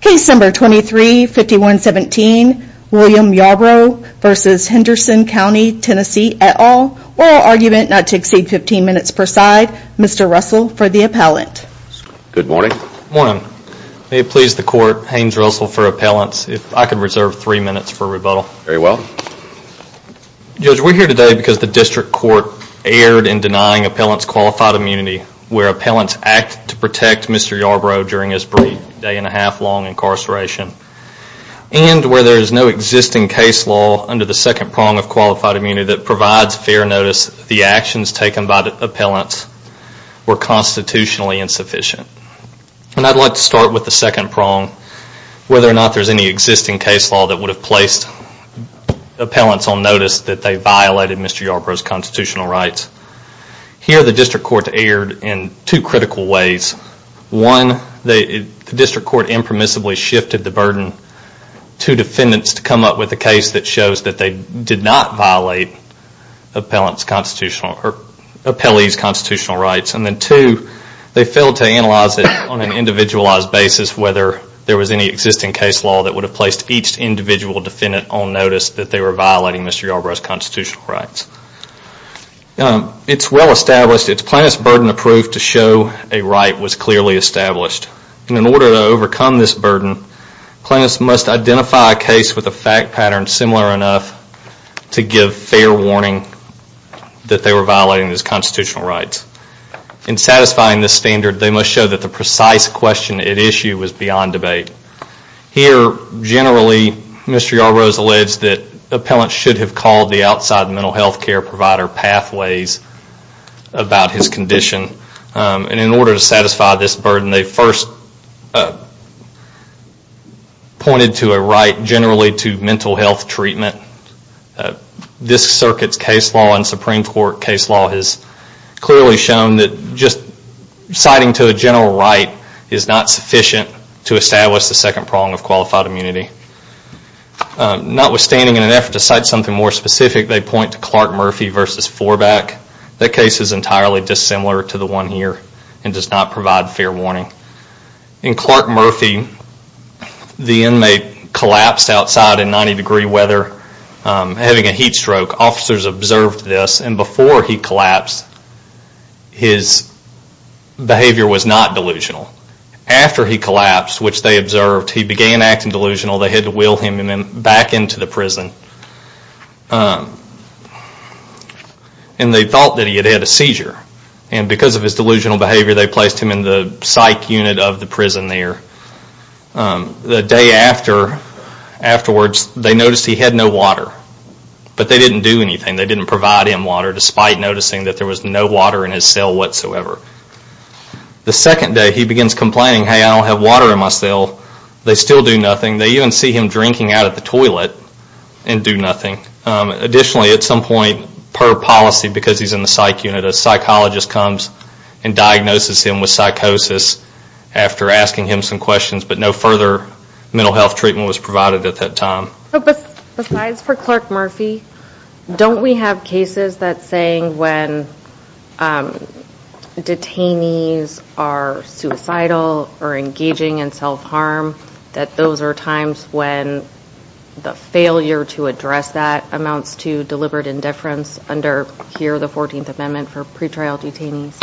Case No. 23-5117 William Yarbrough v. Henderson County TN et al. Oral argument not to exceed 15 minutes per side. Mr. Russell for the appellant. Good morning. Good morning. May it please the court, Haynes Russell for appellants. If I could reserve 3 minutes for rebuttal. Very well. Judge, we're here today because the district court erred in denying appellants qualified immunity where appellants acted to protect Mr. Yarbrough during his brief day and a half long incarceration. And where there is no existing case law under the second prong of qualified immunity that provides fair notice, the actions taken by the appellants were constitutionally insufficient. And I'd like to start with the second prong, whether or not there is any existing case law that would have placed appellants on notice that they violated Mr. Yarbrough's constitutional rights. Here the district court erred in two critical ways. One, the district court impermissibly shifted the burden to defendants to come up with a case that shows that they did not violate appellee's constitutional rights. And then two, they failed to analyze it on an individualized basis whether there was any existing case law that would have placed each individual defendant on notice that they were violating Mr. Yarbrough's constitutional rights. It's well established, it's plaintiff's burden of proof to show a right was clearly established. And in order to overcome this burden, plaintiffs must identify a case with a fact pattern similar enough to give fair warning that they were violating his constitutional rights. In satisfying this standard, they must show that the precise question at issue was beyond debate. Here, generally, Mr. Yarbrough's alleged that appellants should have called the outside mental health care provider pathways about his condition. And in order to satisfy this burden, they first pointed to a right generally to mental health treatment. This circuit's case law and Supreme Court case law has clearly shown that just citing to a general right is not sufficient to establish the second prong of qualified immunity. Notwithstanding, in an effort to cite something more specific, they point to Clark Murphy v. Floorback. That case is entirely dissimilar to the one here and does not provide fair warning. In Clark Murphy, the inmate collapsed outside in 90 degree weather, having a heat stroke. Officers observed this and before he collapsed, his behavior was not delusional. After he collapsed, which they observed, he began acting delusional. They had to wheel him back into the prison. And they thought that he had had a seizure. And because of his delusional behavior, they placed him in the psych unit of the prison there. The day afterwards, they noticed he had no water. But they didn't do anything. They didn't provide him water, despite noticing that there was no water in his cell whatsoever. The second day, he begins complaining, hey, I don't have water in my cell. They still do nothing. They even see him drinking out of the toilet and do nothing. Additionally, at some point, per policy, because he's in the psych unit, a psychologist comes and diagnoses him with psychosis after asking him some questions. But no further mental health treatment was provided at that time. Besides for Clark Murphy, don't we have cases that say when detainees are suicidal or engaging in self-harm, that those are times when the failure to address that amounts to deliberate indifference under here the 14th Amendment for pretrial detainees?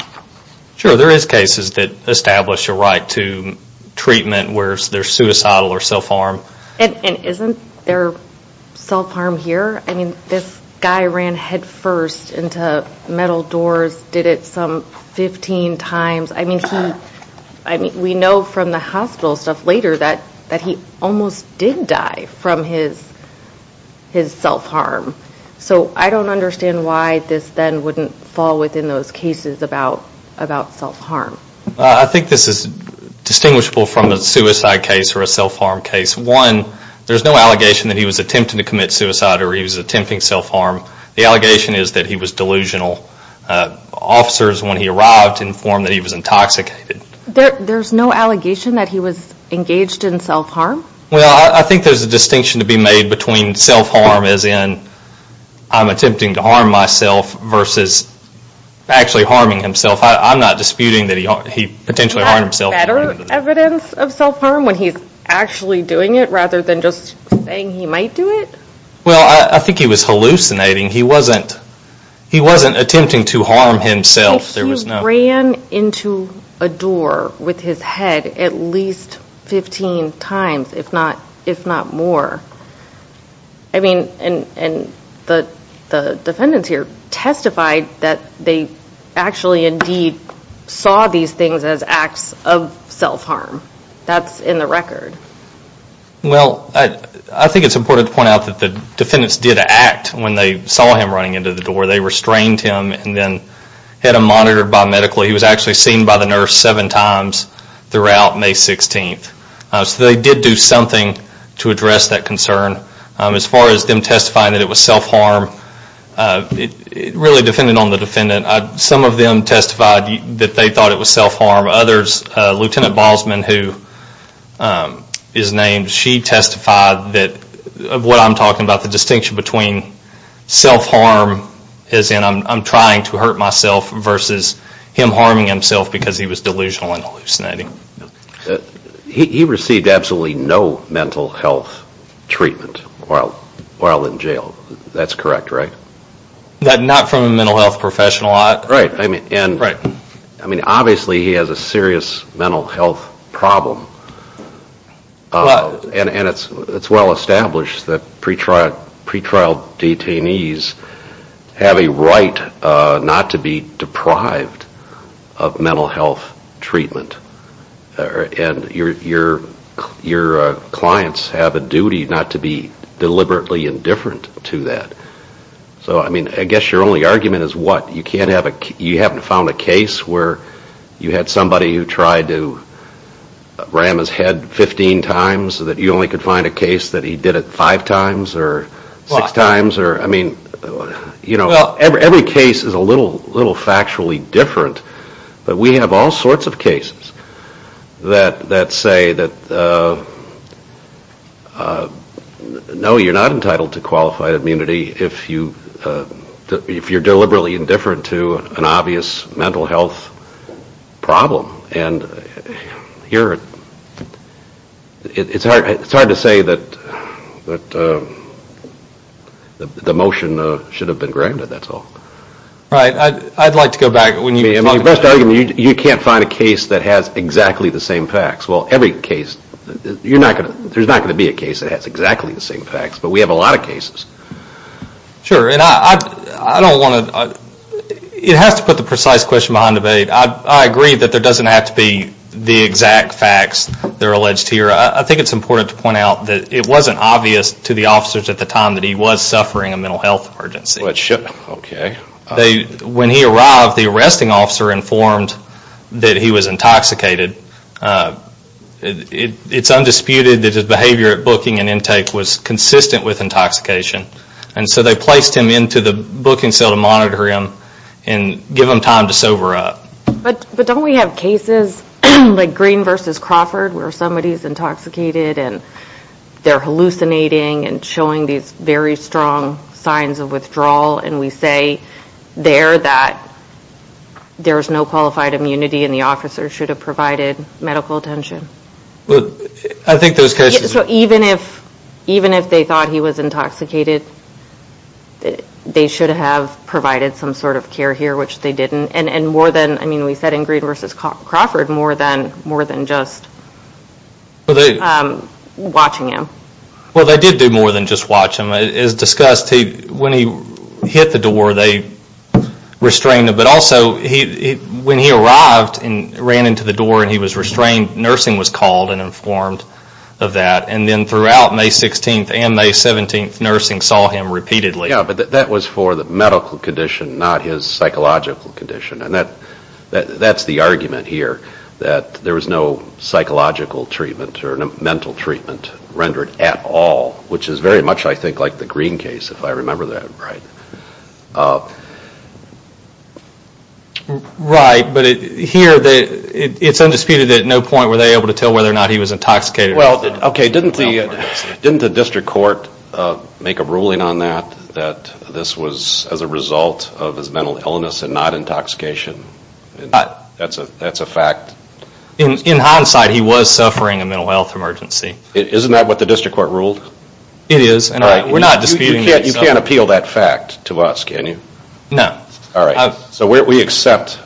Sure, there is cases that establish a right to treatment where there's suicidal or self-harm. And isn't there self-harm here? I mean, this guy ran headfirst into metal doors, did it some 15 times. I mean, we know from the hospital stuff later that he almost did die from his self-harm. So I don't understand why this then wouldn't fall within those cases about self-harm. I think this is distinguishable from a suicide case or a self-harm case. One, there's no allegation that he was attempting to commit suicide or he was attempting self-harm. The allegation is that he was delusional. Officers, when he arrived, informed that he was intoxicated. There's no allegation that he was engaged in self-harm? Well, I think there's a distinction to be made between self-harm as in I'm attempting to harm myself versus actually harming himself. I'm not disputing that he potentially harmed himself. Is there better evidence of self-harm when he's actually doing it rather than just saying he might do it? Well, I think he was hallucinating. He wasn't attempting to harm himself. He ran into a door with his head at least 15 times, if not more. I mean, and the defendants here testified that they actually indeed saw these things as acts of self-harm. That's in the record. Well, I think it's important to point out that the defendants did act when they saw him running into the door. They restrained him and then had him monitored biomedically. He was actually seen by the nurse seven times throughout May 16th. So they did do something to address that concern. As far as them testifying that it was self-harm, it really depended on the defendant. Some of them testified that they thought it was self-harm. Others, Lieutenant Balsman, who is named, she testified that what I'm talking about, the distinction between self-harm as in I'm trying to hurt myself versus him harming himself because he was delusional and hallucinating. He received absolutely no mental health treatment while in jail. That's correct, right? Not from a mental health professional. Right. I mean, obviously he has a serious mental health problem. And it's well established that pretrial detainees have a right not to be deprived of mental health treatment. And your clients have a duty not to be deliberately indifferent to that. So I mean, I guess your only argument is what? You haven't found a case where you had somebody who tried to ram his head 15 times so that you only could find a case that he did it five times or six times? I mean, every case is a little factually different. But we have all sorts of cases that say that, no, you're not entitled to qualified immunity if you're deliberately indifferent to an obvious mental health problem. And it's hard to say that the motion should have been granted, that's all. Right. I'd like to go back. Your best argument is you can't find a case that has exactly the same facts. Well, every case, there's not going to be a case that has exactly the same facts. But we have a lot of cases. Sure. And I don't want to, it has to put the precise question behind the bait. I agree that there doesn't have to be the exact facts that are alleged here. I think it's important to point out that it wasn't obvious to the officers at the time that he was suffering a mental health emergency. Okay. When he arrived, the arresting officer informed that he was intoxicated. It's undisputed that his behavior at booking and intake was consistent with intoxication. And so they placed him into the booking cell to monitor him and give him time to sober up. But don't we have cases like Green v. Crawford where somebody's intoxicated and they're hallucinating and showing these very strong signs of withdrawal and we say there that there's no qualified immunity and the officer should have provided medical attention? I think those cases... So even if they thought he was intoxicated, they should have provided some sort of care here, which they didn't, and more than, I mean, we said in Green v. Crawford, more than just watching him. Well, they did do more than just watch him. As discussed, when he hit the door, they restrained him. But also when he arrived and ran into the door and he was restrained, nursing was called and informed of that. And then throughout May 16th and May 17th, nursing saw him repeatedly. Yeah, but that was for the medical condition, not his psychological condition. And that's the argument here, that there was no psychological treatment or mental treatment rendered at all, which is very much, I think, like the Green case, if I remember that right. Right, but here it's undisputed that at no point were they able to tell whether or not he was intoxicated. Well, okay, didn't the district court make a ruling on that, that this was as a result of his mental illness and not intoxication? That's a fact. In hindsight, he was suffering a mental health emergency. Isn't that what the district court ruled? It is. All right, we're not disputing that. You can't appeal that fact to us, can you? No. All right, so we accept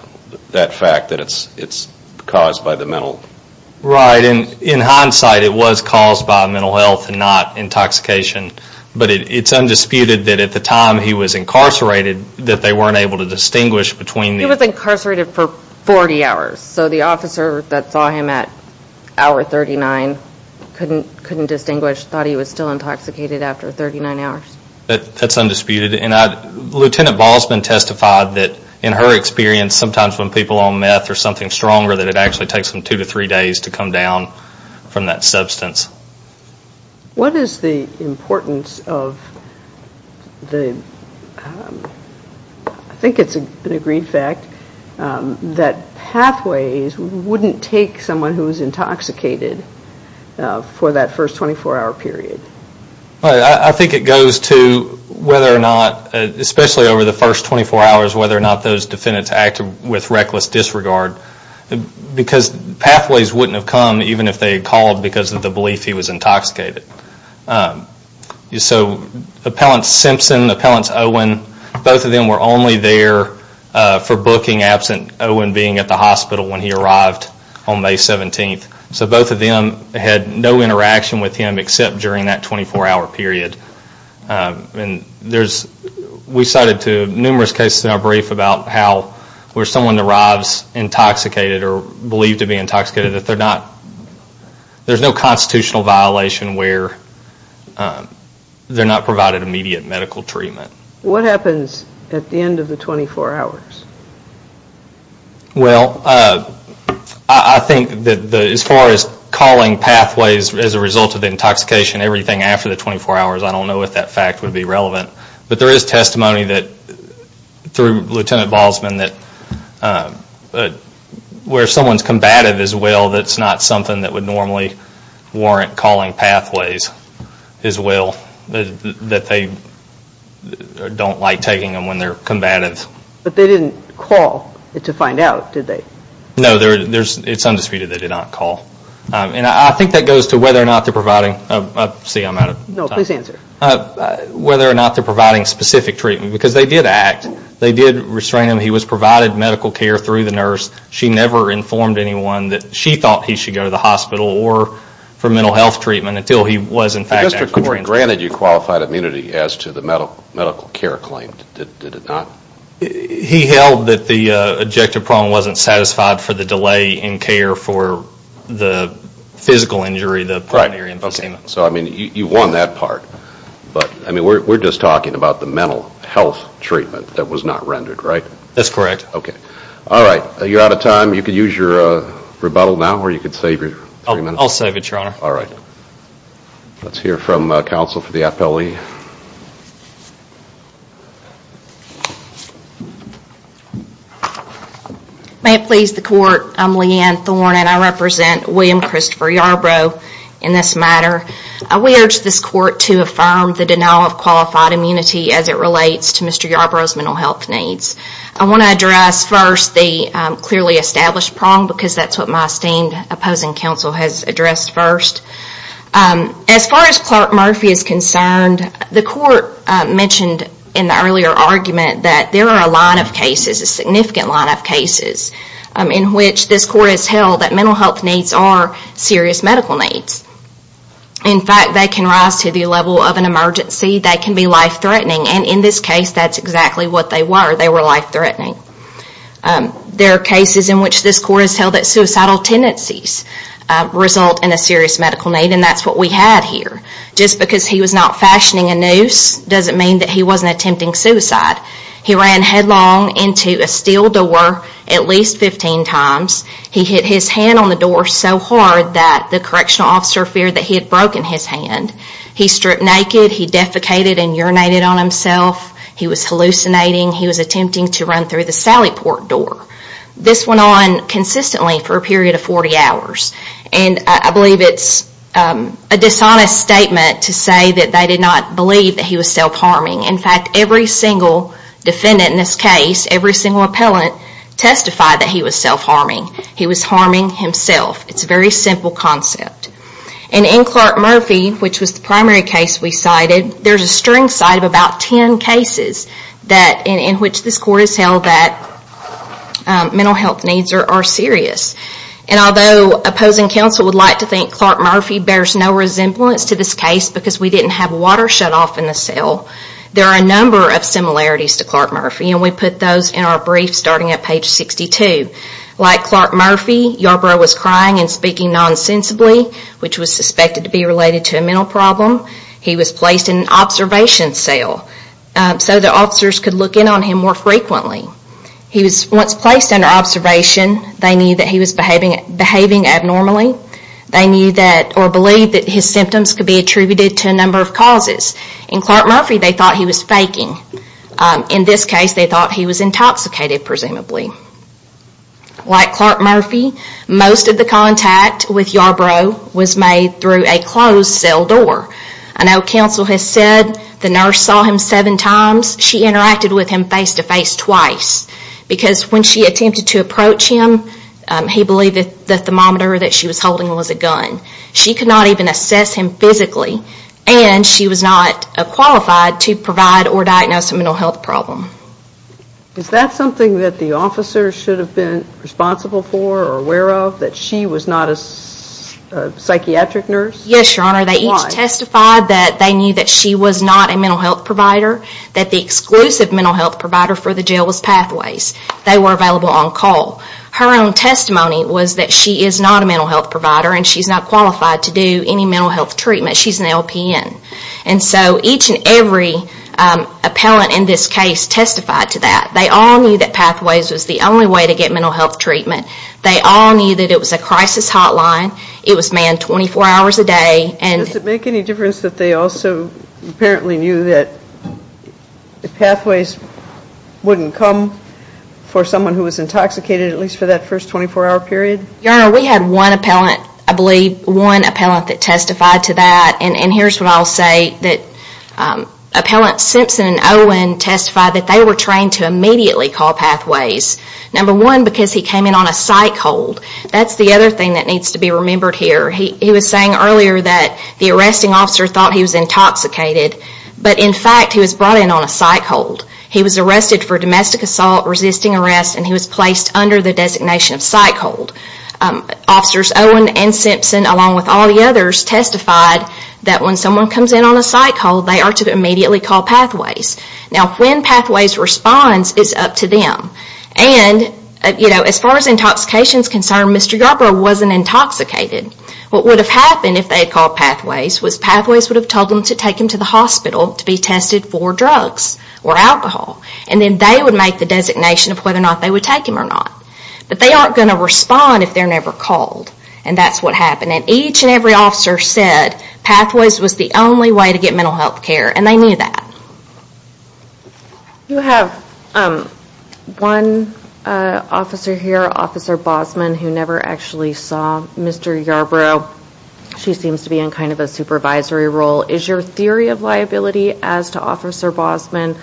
that fact that it's caused by the mental illness. Right, and in hindsight it was caused by mental health and not intoxication. But it's undisputed that at the time he was incarcerated that they weren't able to distinguish between the... He was incarcerated for 40 hours. So the officer that saw him at hour 39 couldn't distinguish, thought he was still intoxicated after 39 hours. That's undisputed. Lieutenant Baldwin testified that in her experience, sometimes when people are on meth or something stronger, that it actually takes them two to three days to come down from that substance. What is the importance of the... I think it's an agreed fact that Pathways wouldn't take someone who was intoxicated for that first 24-hour period. I think it goes to whether or not, especially over the first 24 hours, whether or not those defendants acted with reckless disregard because Pathways wouldn't have come even if they had called because of the belief he was intoxicated. So Appellant Simpson, Appellant Owen, both of them were only there for booking absent Owen being at the hospital when he arrived on May 17th. So both of them had no interaction with him except during that 24-hour period. We cited numerous cases in our brief about how where someone arrives intoxicated or believed to be intoxicated, there's no constitutional violation where they're not provided immediate medical treatment. What happens at the end of the 24 hours? Well, I think that as far as calling Pathways as a result of the intoxication, everything after the 24 hours, I don't know if that fact would be relevant. But there is testimony through Lieutenant Balsman that where someone's combative as well, that's not something that would normally warrant calling Pathways as well. That they don't like taking them when they're combative. But they didn't call to find out, did they? No, it's undisputed they did not call. And I think that goes to whether or not they're providing... See, I'm out of time. No, please answer. Whether or not they're providing specific treatment because they did act. They did restrain him. He was provided medical care through the nurse. She never informed anyone that she thought he should go to the hospital or for mental health treatment until he was in fact... The district court granted you qualified immunity as to the medical care claim. Did it not? He held that the objective problem wasn't satisfied for the delay in care for the physical injury, the pulmonary emphysema. So, I mean, you won that part. But, I mean, we're just talking about the mental health treatment that was not rendered, right? That's correct. Okay. All right. You're out of time. You can use your rebuttal now or you can save your three minutes. I'll save it, Your Honor. All right. Let's hear from counsel for the appellee. May it please the court. I'm Leanne Thorne and I represent William Christopher Yarbrough in this matter. We urge this court to affirm the denial of qualified immunity as it relates to Mr. Yarbrough's mental health needs. I want to address first the clearly established prong because that's what my esteemed opposing counsel has addressed first. As far as Clark Murphy is concerned, the court mentioned in the earlier argument that there are a line of cases, a significant line of cases, in which this court has held that mental health needs are serious medical needs. In fact, they can rise to the level of an emergency. They can be life-threatening. And in this case, that's exactly what they were. They were life-threatening. There are cases in which this court has held that suicidal tendencies result in a serious medical need, and that's what we had here. Just because he was not fashioning a noose doesn't mean that he wasn't attempting suicide. He ran headlong into a steel door at least 15 times. He hit his hand on the door so hard that the correctional officer feared that he had broken his hand. He stripped naked. He defecated and urinated on himself. He was hallucinating. He was attempting to run through the Sally Port door. This went on consistently for a period of 40 hours. And I believe it's a dishonest statement to say that they did not believe that he was self-harming. In fact, every single defendant in this case, every single appellant testified that he was self-harming. He was harming himself. It's a very simple concept. And in Clark Murphy, which was the primary case we cited, there's a string cite of about 10 cases in which this court has held that mental health needs are serious. And although opposing counsel would like to think Clark Murphy bears no resemblance to this case because we didn't have water shut off in the cell, there are a number of similarities to Clark Murphy. And we put those in our brief starting at page 62. Like Clark Murphy, Yarbrough was crying and speaking nonsensibly, which was suspected to be related to a mental problem. He was placed in an observation cell. So the officers could look in on him more frequently. He was once placed under observation. They knew that he was behaving abnormally. They knew that or believed that his symptoms could be attributed to a number of causes. In Clark Murphy, they thought he was faking. In this case, they thought he was intoxicated, presumably. Like Clark Murphy, most of the contact with Yarbrough was made through a closed cell door. I know counsel has said the nurse saw him seven times. She interacted with him face-to-face twice because when she attempted to approach him, he believed that the thermometer that she was holding was a gun. She could not even assess him physically, and she was not qualified to provide or diagnose a mental health problem. Is that something that the officers should have been responsible for or aware of, that she was not a psychiatric nurse? Yes, Your Honor. They each testified that they knew that she was not a mental health provider, that the exclusive mental health provider for the jail was Pathways. They were available on call. Her own testimony was that she is not a mental health provider and she's not qualified to do any mental health treatment. She's an LPN. So each and every appellant in this case testified to that. They all knew that Pathways was the only way to get mental health treatment. They all knew that it was a crisis hotline. It was manned 24 hours a day. Does it make any difference that they also apparently knew that Pathways wouldn't come for someone who was intoxicated, at least for that first 24-hour period? Your Honor, we had one appellant, I believe, one appellant that testified to that, and here's what I'll say, that Appellants Simpson and Owen testified that they were trained to immediately call Pathways. Number one, because he came in on a psych hold. That's the other thing that needs to be remembered here. He was saying earlier that the arresting officer thought he was intoxicated, but in fact he was brought in on a psych hold. He was arrested for domestic assault, resisting arrest, and he was placed under the designation of psych hold. Officers Owen and Simpson, along with all the others, testified that when someone comes in on a psych hold, they are to immediately call Pathways. Now when Pathways responds, it's up to them. As far as intoxication is concerned, Mr. Garber wasn't intoxicated. What would have happened if they had called Pathways was Pathways would have told them to take him to the hospital to be tested for drugs or alcohol, and then they would make the designation of whether or not they would take him or not. But they aren't going to respond if they're never called, and that's what happened. Each and every officer said Pathways was the only way to get mental health care, and they knew that. You have one officer here, Officer Bosman, who never actually saw Mr. Garber. She seems to be in kind of a supervisory role. Is your theory of liability as to Officer Bosman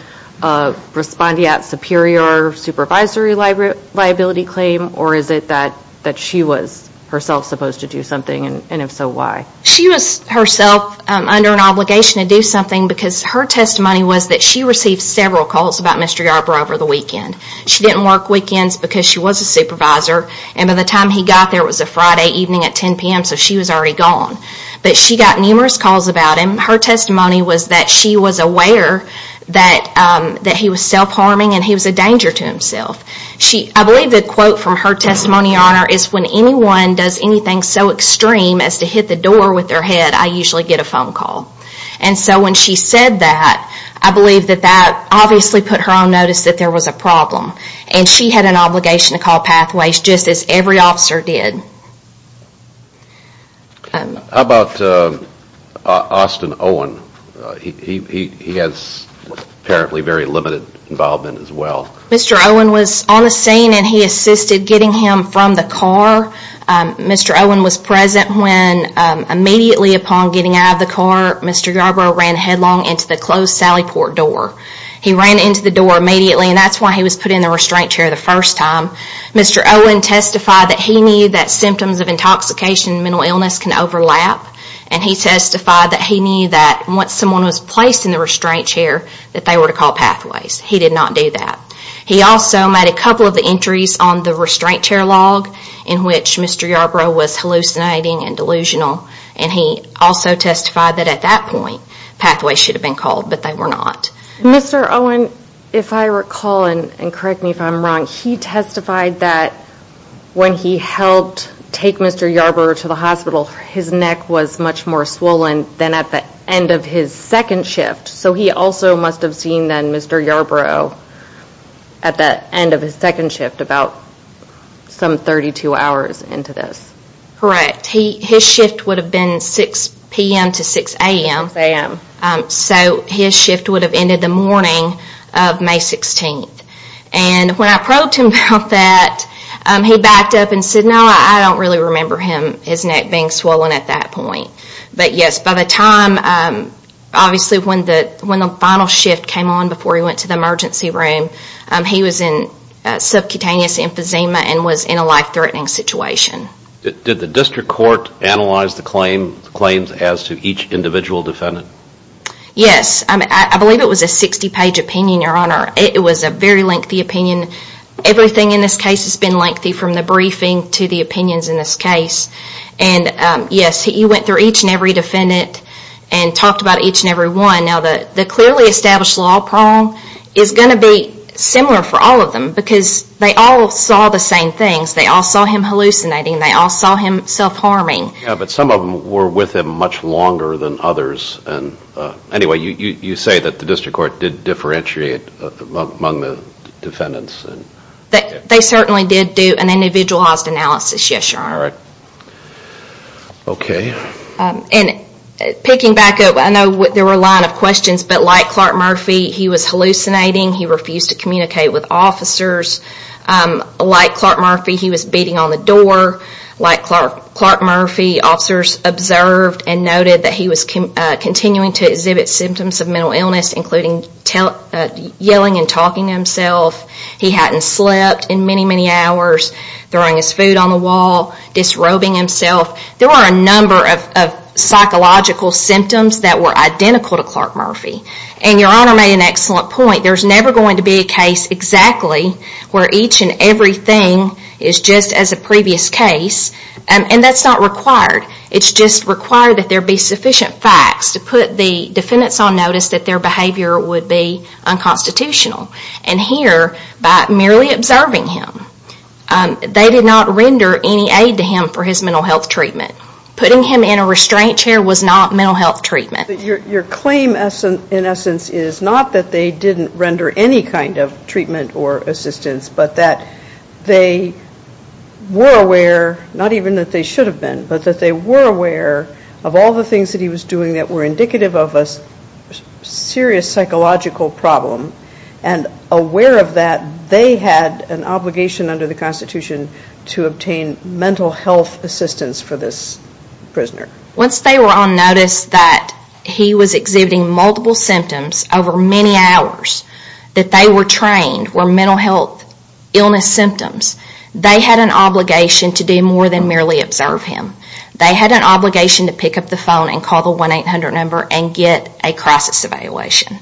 responding at superior supervisory liability claim, or is it that she was herself supposed to do something, and if so, why? She was herself under an obligation to do something because her testimony was that she received several calls about Mr. Garber over the weekend. She didn't work weekends because she was a supervisor, and by the time he got there, it was a Friday evening at 10 p.m., so she was already gone. But she got numerous calls about him. Her testimony was that she was aware that he was self-harming and he was a danger to himself. I believe the quote from her testimony, Your Honor, is when anyone does anything so extreme as to hit the door with their head, I usually get a phone call. And so when she said that, I believe that that obviously put her on notice that there was a problem, and she had an obligation to call Pathways just as every officer did. How about Austin Owen? He has apparently very limited involvement as well. Mr. Owen was on the scene, and he assisted getting him from the car. Mr. Owen was present when immediately upon getting out of the car, Mr. Garber ran headlong into the closed Sally Port door. He ran into the door immediately, and that's why he was put in the restraint chair the first time. Mr. Owen testified that he knew that symptoms of intoxication and mental illness can overlap, and he testified that he knew that once someone was placed in the restraint chair that they were to call Pathways. He did not do that. He also made a couple of the entries on the restraint chair log in which Mr. Garber was hallucinating and delusional, and he also testified that at that point Pathways should have been called, but they were not. Mr. Owen, if I recall, and correct me if I'm wrong, he testified that when he helped take Mr. Garber to the hospital, his neck was much more swollen than at the end of his second shift, so he also must have seen then Mr. Garber at the end of his second shift about some 32 hours into this. Correct. His shift would have been 6 p.m. to 6 a.m., so his shift would have ended the morning of May 16th, and when I probed him about that, he backed up and said, no, I don't really remember his neck being swollen at that point, but yes, by the time obviously when the final shift came on before he went to the emergency room, he was in subcutaneous emphysema and was in a life-threatening situation. Did the district court analyze the claims as to each individual defendant? Yes. I believe it was a 60-page opinion, Your Honor. It was a very lengthy opinion. Everything in this case has been lengthy from the briefing to the opinions in this case, and yes, you went through each and every defendant and talked about each and every one. Now, the clearly established law, Paul, is going to be similar for all of them because they all saw the same things. They all saw him hallucinating. They all saw him self-harming. Yes, but some of them were with him much longer than others. Anyway, you say that the district court did differentiate among the defendants. They certainly did do an individualized analysis, yes, Your Honor. Okay. Picking back up, I know there were a line of questions, but like Clark Murphy, he was hallucinating. He refused to communicate with officers. Like Clark Murphy, he was beating on the door. Like Clark Murphy, officers observed and noted that he was continuing to exhibit symptoms of mental illness, including yelling and talking to himself. He hadn't slept in many, many hours, throwing his food on the wall, disrobing himself. There were a number of psychological symptoms that were identical to Clark Murphy. And Your Honor made an excellent point. There's never going to be a case exactly where each and everything is just as a previous case, and that's not required. It's just required that there be sufficient facts to put the defendants on notice that their behavior would be unconstitutional. And here, by merely observing him, they did not render any aid to him for his mental health treatment. Putting him in a restraint chair was not mental health treatment. Your claim, in essence, is not that they didn't render any kind of treatment or assistance, but that they were aware, not even that they should have been, but that they were aware of all the things that he was doing that were indicative of a serious psychological problem, and aware of that, they had an obligation under the Constitution to obtain mental health assistance for this prisoner. Once they were on notice that he was exhibiting multiple symptoms over many hours, that they were trained, were mental health illness symptoms, they had an obligation to do more than merely observe him. They had an obligation to pick up the phone and call the 1-800 number and get a crisis evaluation.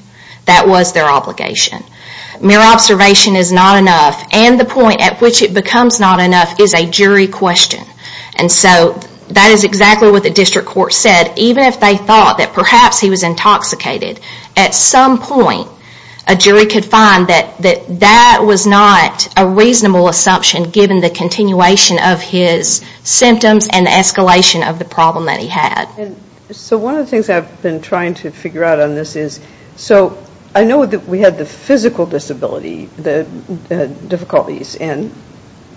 That was their obligation. Mere observation is not enough, and the point at which it becomes not enough is a jury question. And so that is exactly what the district court said. Even if they thought that perhaps he was intoxicated, at some point a jury could find that that was not a reasonable assumption given the continuation of his symptoms and the escalation of the problem that he had. So one of the things I've been trying to figure out on this is, so I know that we had the physical disability difficulties, and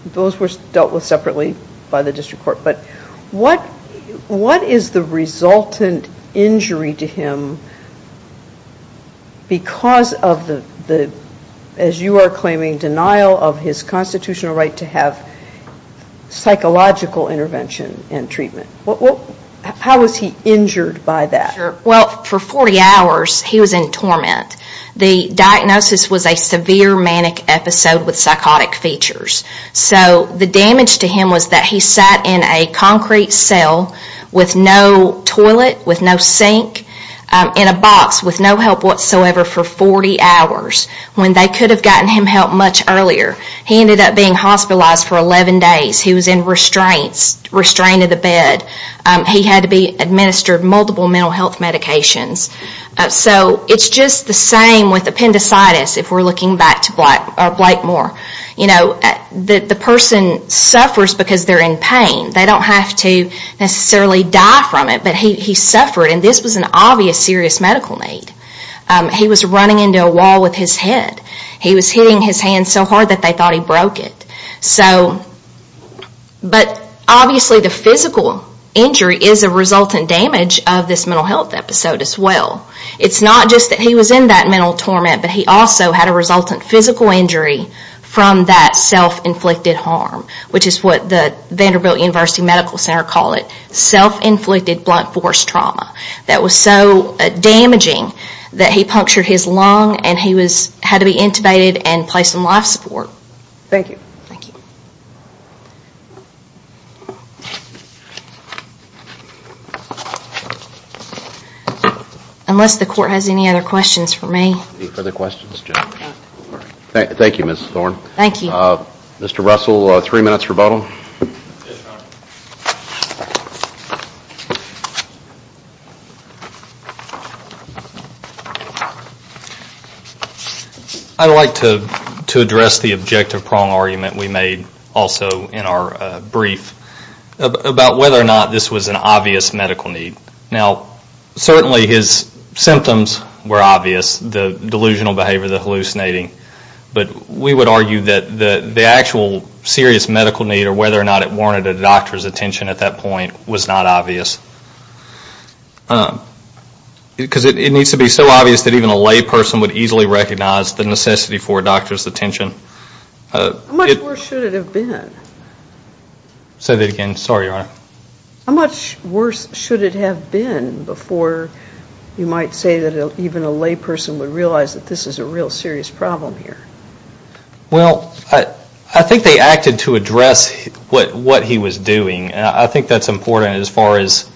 those were dealt with separately by the district court, but what is the resultant injury to him because of the, as you are claiming, denial of his constitutional right to have psychological intervention and treatment? How was he injured by that? Well, for 40 hours he was in torment. The diagnosis was a severe manic episode with psychotic features. So the damage to him was that he sat in a concrete cell with no toilet, with no sink, in a box with no help whatsoever for 40 hours when they could have gotten him help much earlier. He ended up being hospitalized for 11 days. He was in restraints, restrained to the bed. He had to be administered multiple mental health medications. So it's just the same with appendicitis if we're looking back to Blakemore. The person suffers because they're in pain. They don't have to necessarily die from it, but he suffered, and this was an obvious serious medical need. He was running into a wall with his head. He was hitting his hand so hard that they thought he broke it. But obviously the physical injury is a resultant damage of this mental health episode as well. It's not just that he was in that mental torment, but he also had a resultant physical injury from that self-inflicted harm, which is what the Vanderbilt University Medical Center call it, self-inflicted blunt force trauma that was so damaging that he punctured his lung and he had to be intubated and placed in life support. Thank you. Thank you. Unless the court has any other questions for me. Any further questions? Thank you, Ms. Thorne. Thank you. Mr. Russell, three minutes rebuttal. Yes, Your Honor. I'd like to address the objective prong argument we made also in our brief about whether or not this was an obvious medical need. Now, certainly his symptoms were obvious, the delusional behavior, the hallucinating, but we would argue that the actual serious medical need or whether or not it warranted a doctor's attention at that point was not obvious. Because it needs to be so obvious that even a lay person would easily recognize the necessity for a doctor's attention. How much worse should it have been? Say that again. Sorry, Your Honor. How much worse should it have been before you might say that even a lay person would realize that this is a real serious problem here? Well, I think they acted to address what he was doing. I think that's important as far as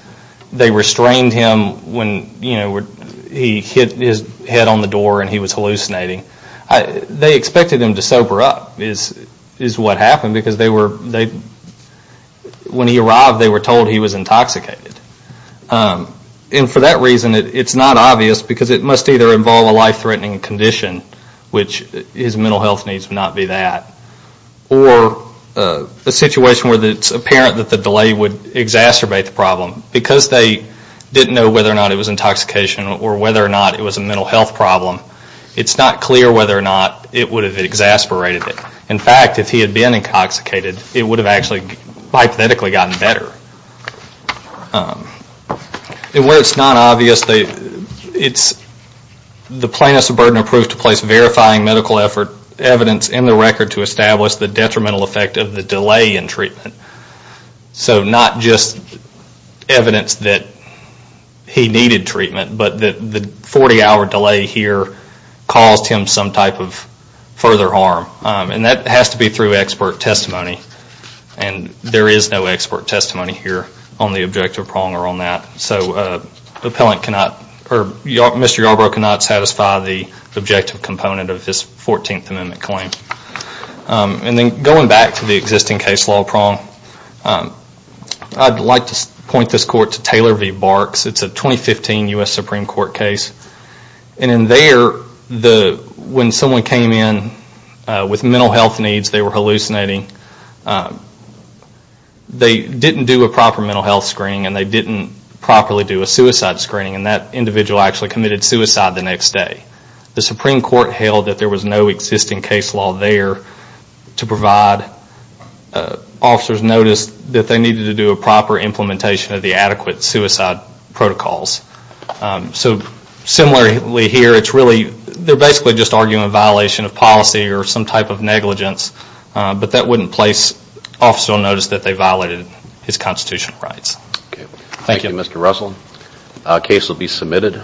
they restrained him when he hit his head on the door and he was hallucinating. They expected him to sober up is what happened because when he arrived, they were told he was intoxicated. And for that reason, it's not obvious because it must either involve a life-threatening condition, which his mental health needs would not be that, or a situation where it's apparent that the delay would exacerbate the problem. Because they didn't know whether or not it was intoxication or whether or not it was a mental health problem, it's not clear whether or not it would have exasperated him. In fact, if he had been intoxicated, it would have actually, hypothetically, gotten better. Where it's not obvious, it's the plaintiff's burden of proof to place verifying medical evidence in the record to establish the detrimental effect of the delay in treatment. So not just evidence that he needed treatment, but the 40-hour delay here caused him some type of further harm. And that has to be through expert testimony. And there is no expert testimony here on the objective prong or on that. So Mr. Yarbrough cannot satisfy the objective component of this 14th Amendment claim. And then going back to the existing case law prong, I'd like to point this court to Taylor v. Barks. It's a 2015 U.S. Supreme Court case. And in there, when someone came in with mental health needs, they were hallucinating. They didn't do a proper mental health screening and they didn't properly do a suicide screening and that individual actually committed suicide the next day. The Supreme Court held that there was no existing case law there to provide officers notice that they needed to do a proper implementation of the adequate suicide protocols. So similarly here, they're basically just arguing a violation of policy or some type of negligence, but that wouldn't place officers on notice that they violated his constitutional rights. Thank you, Mr. Russell. The case will be submitted.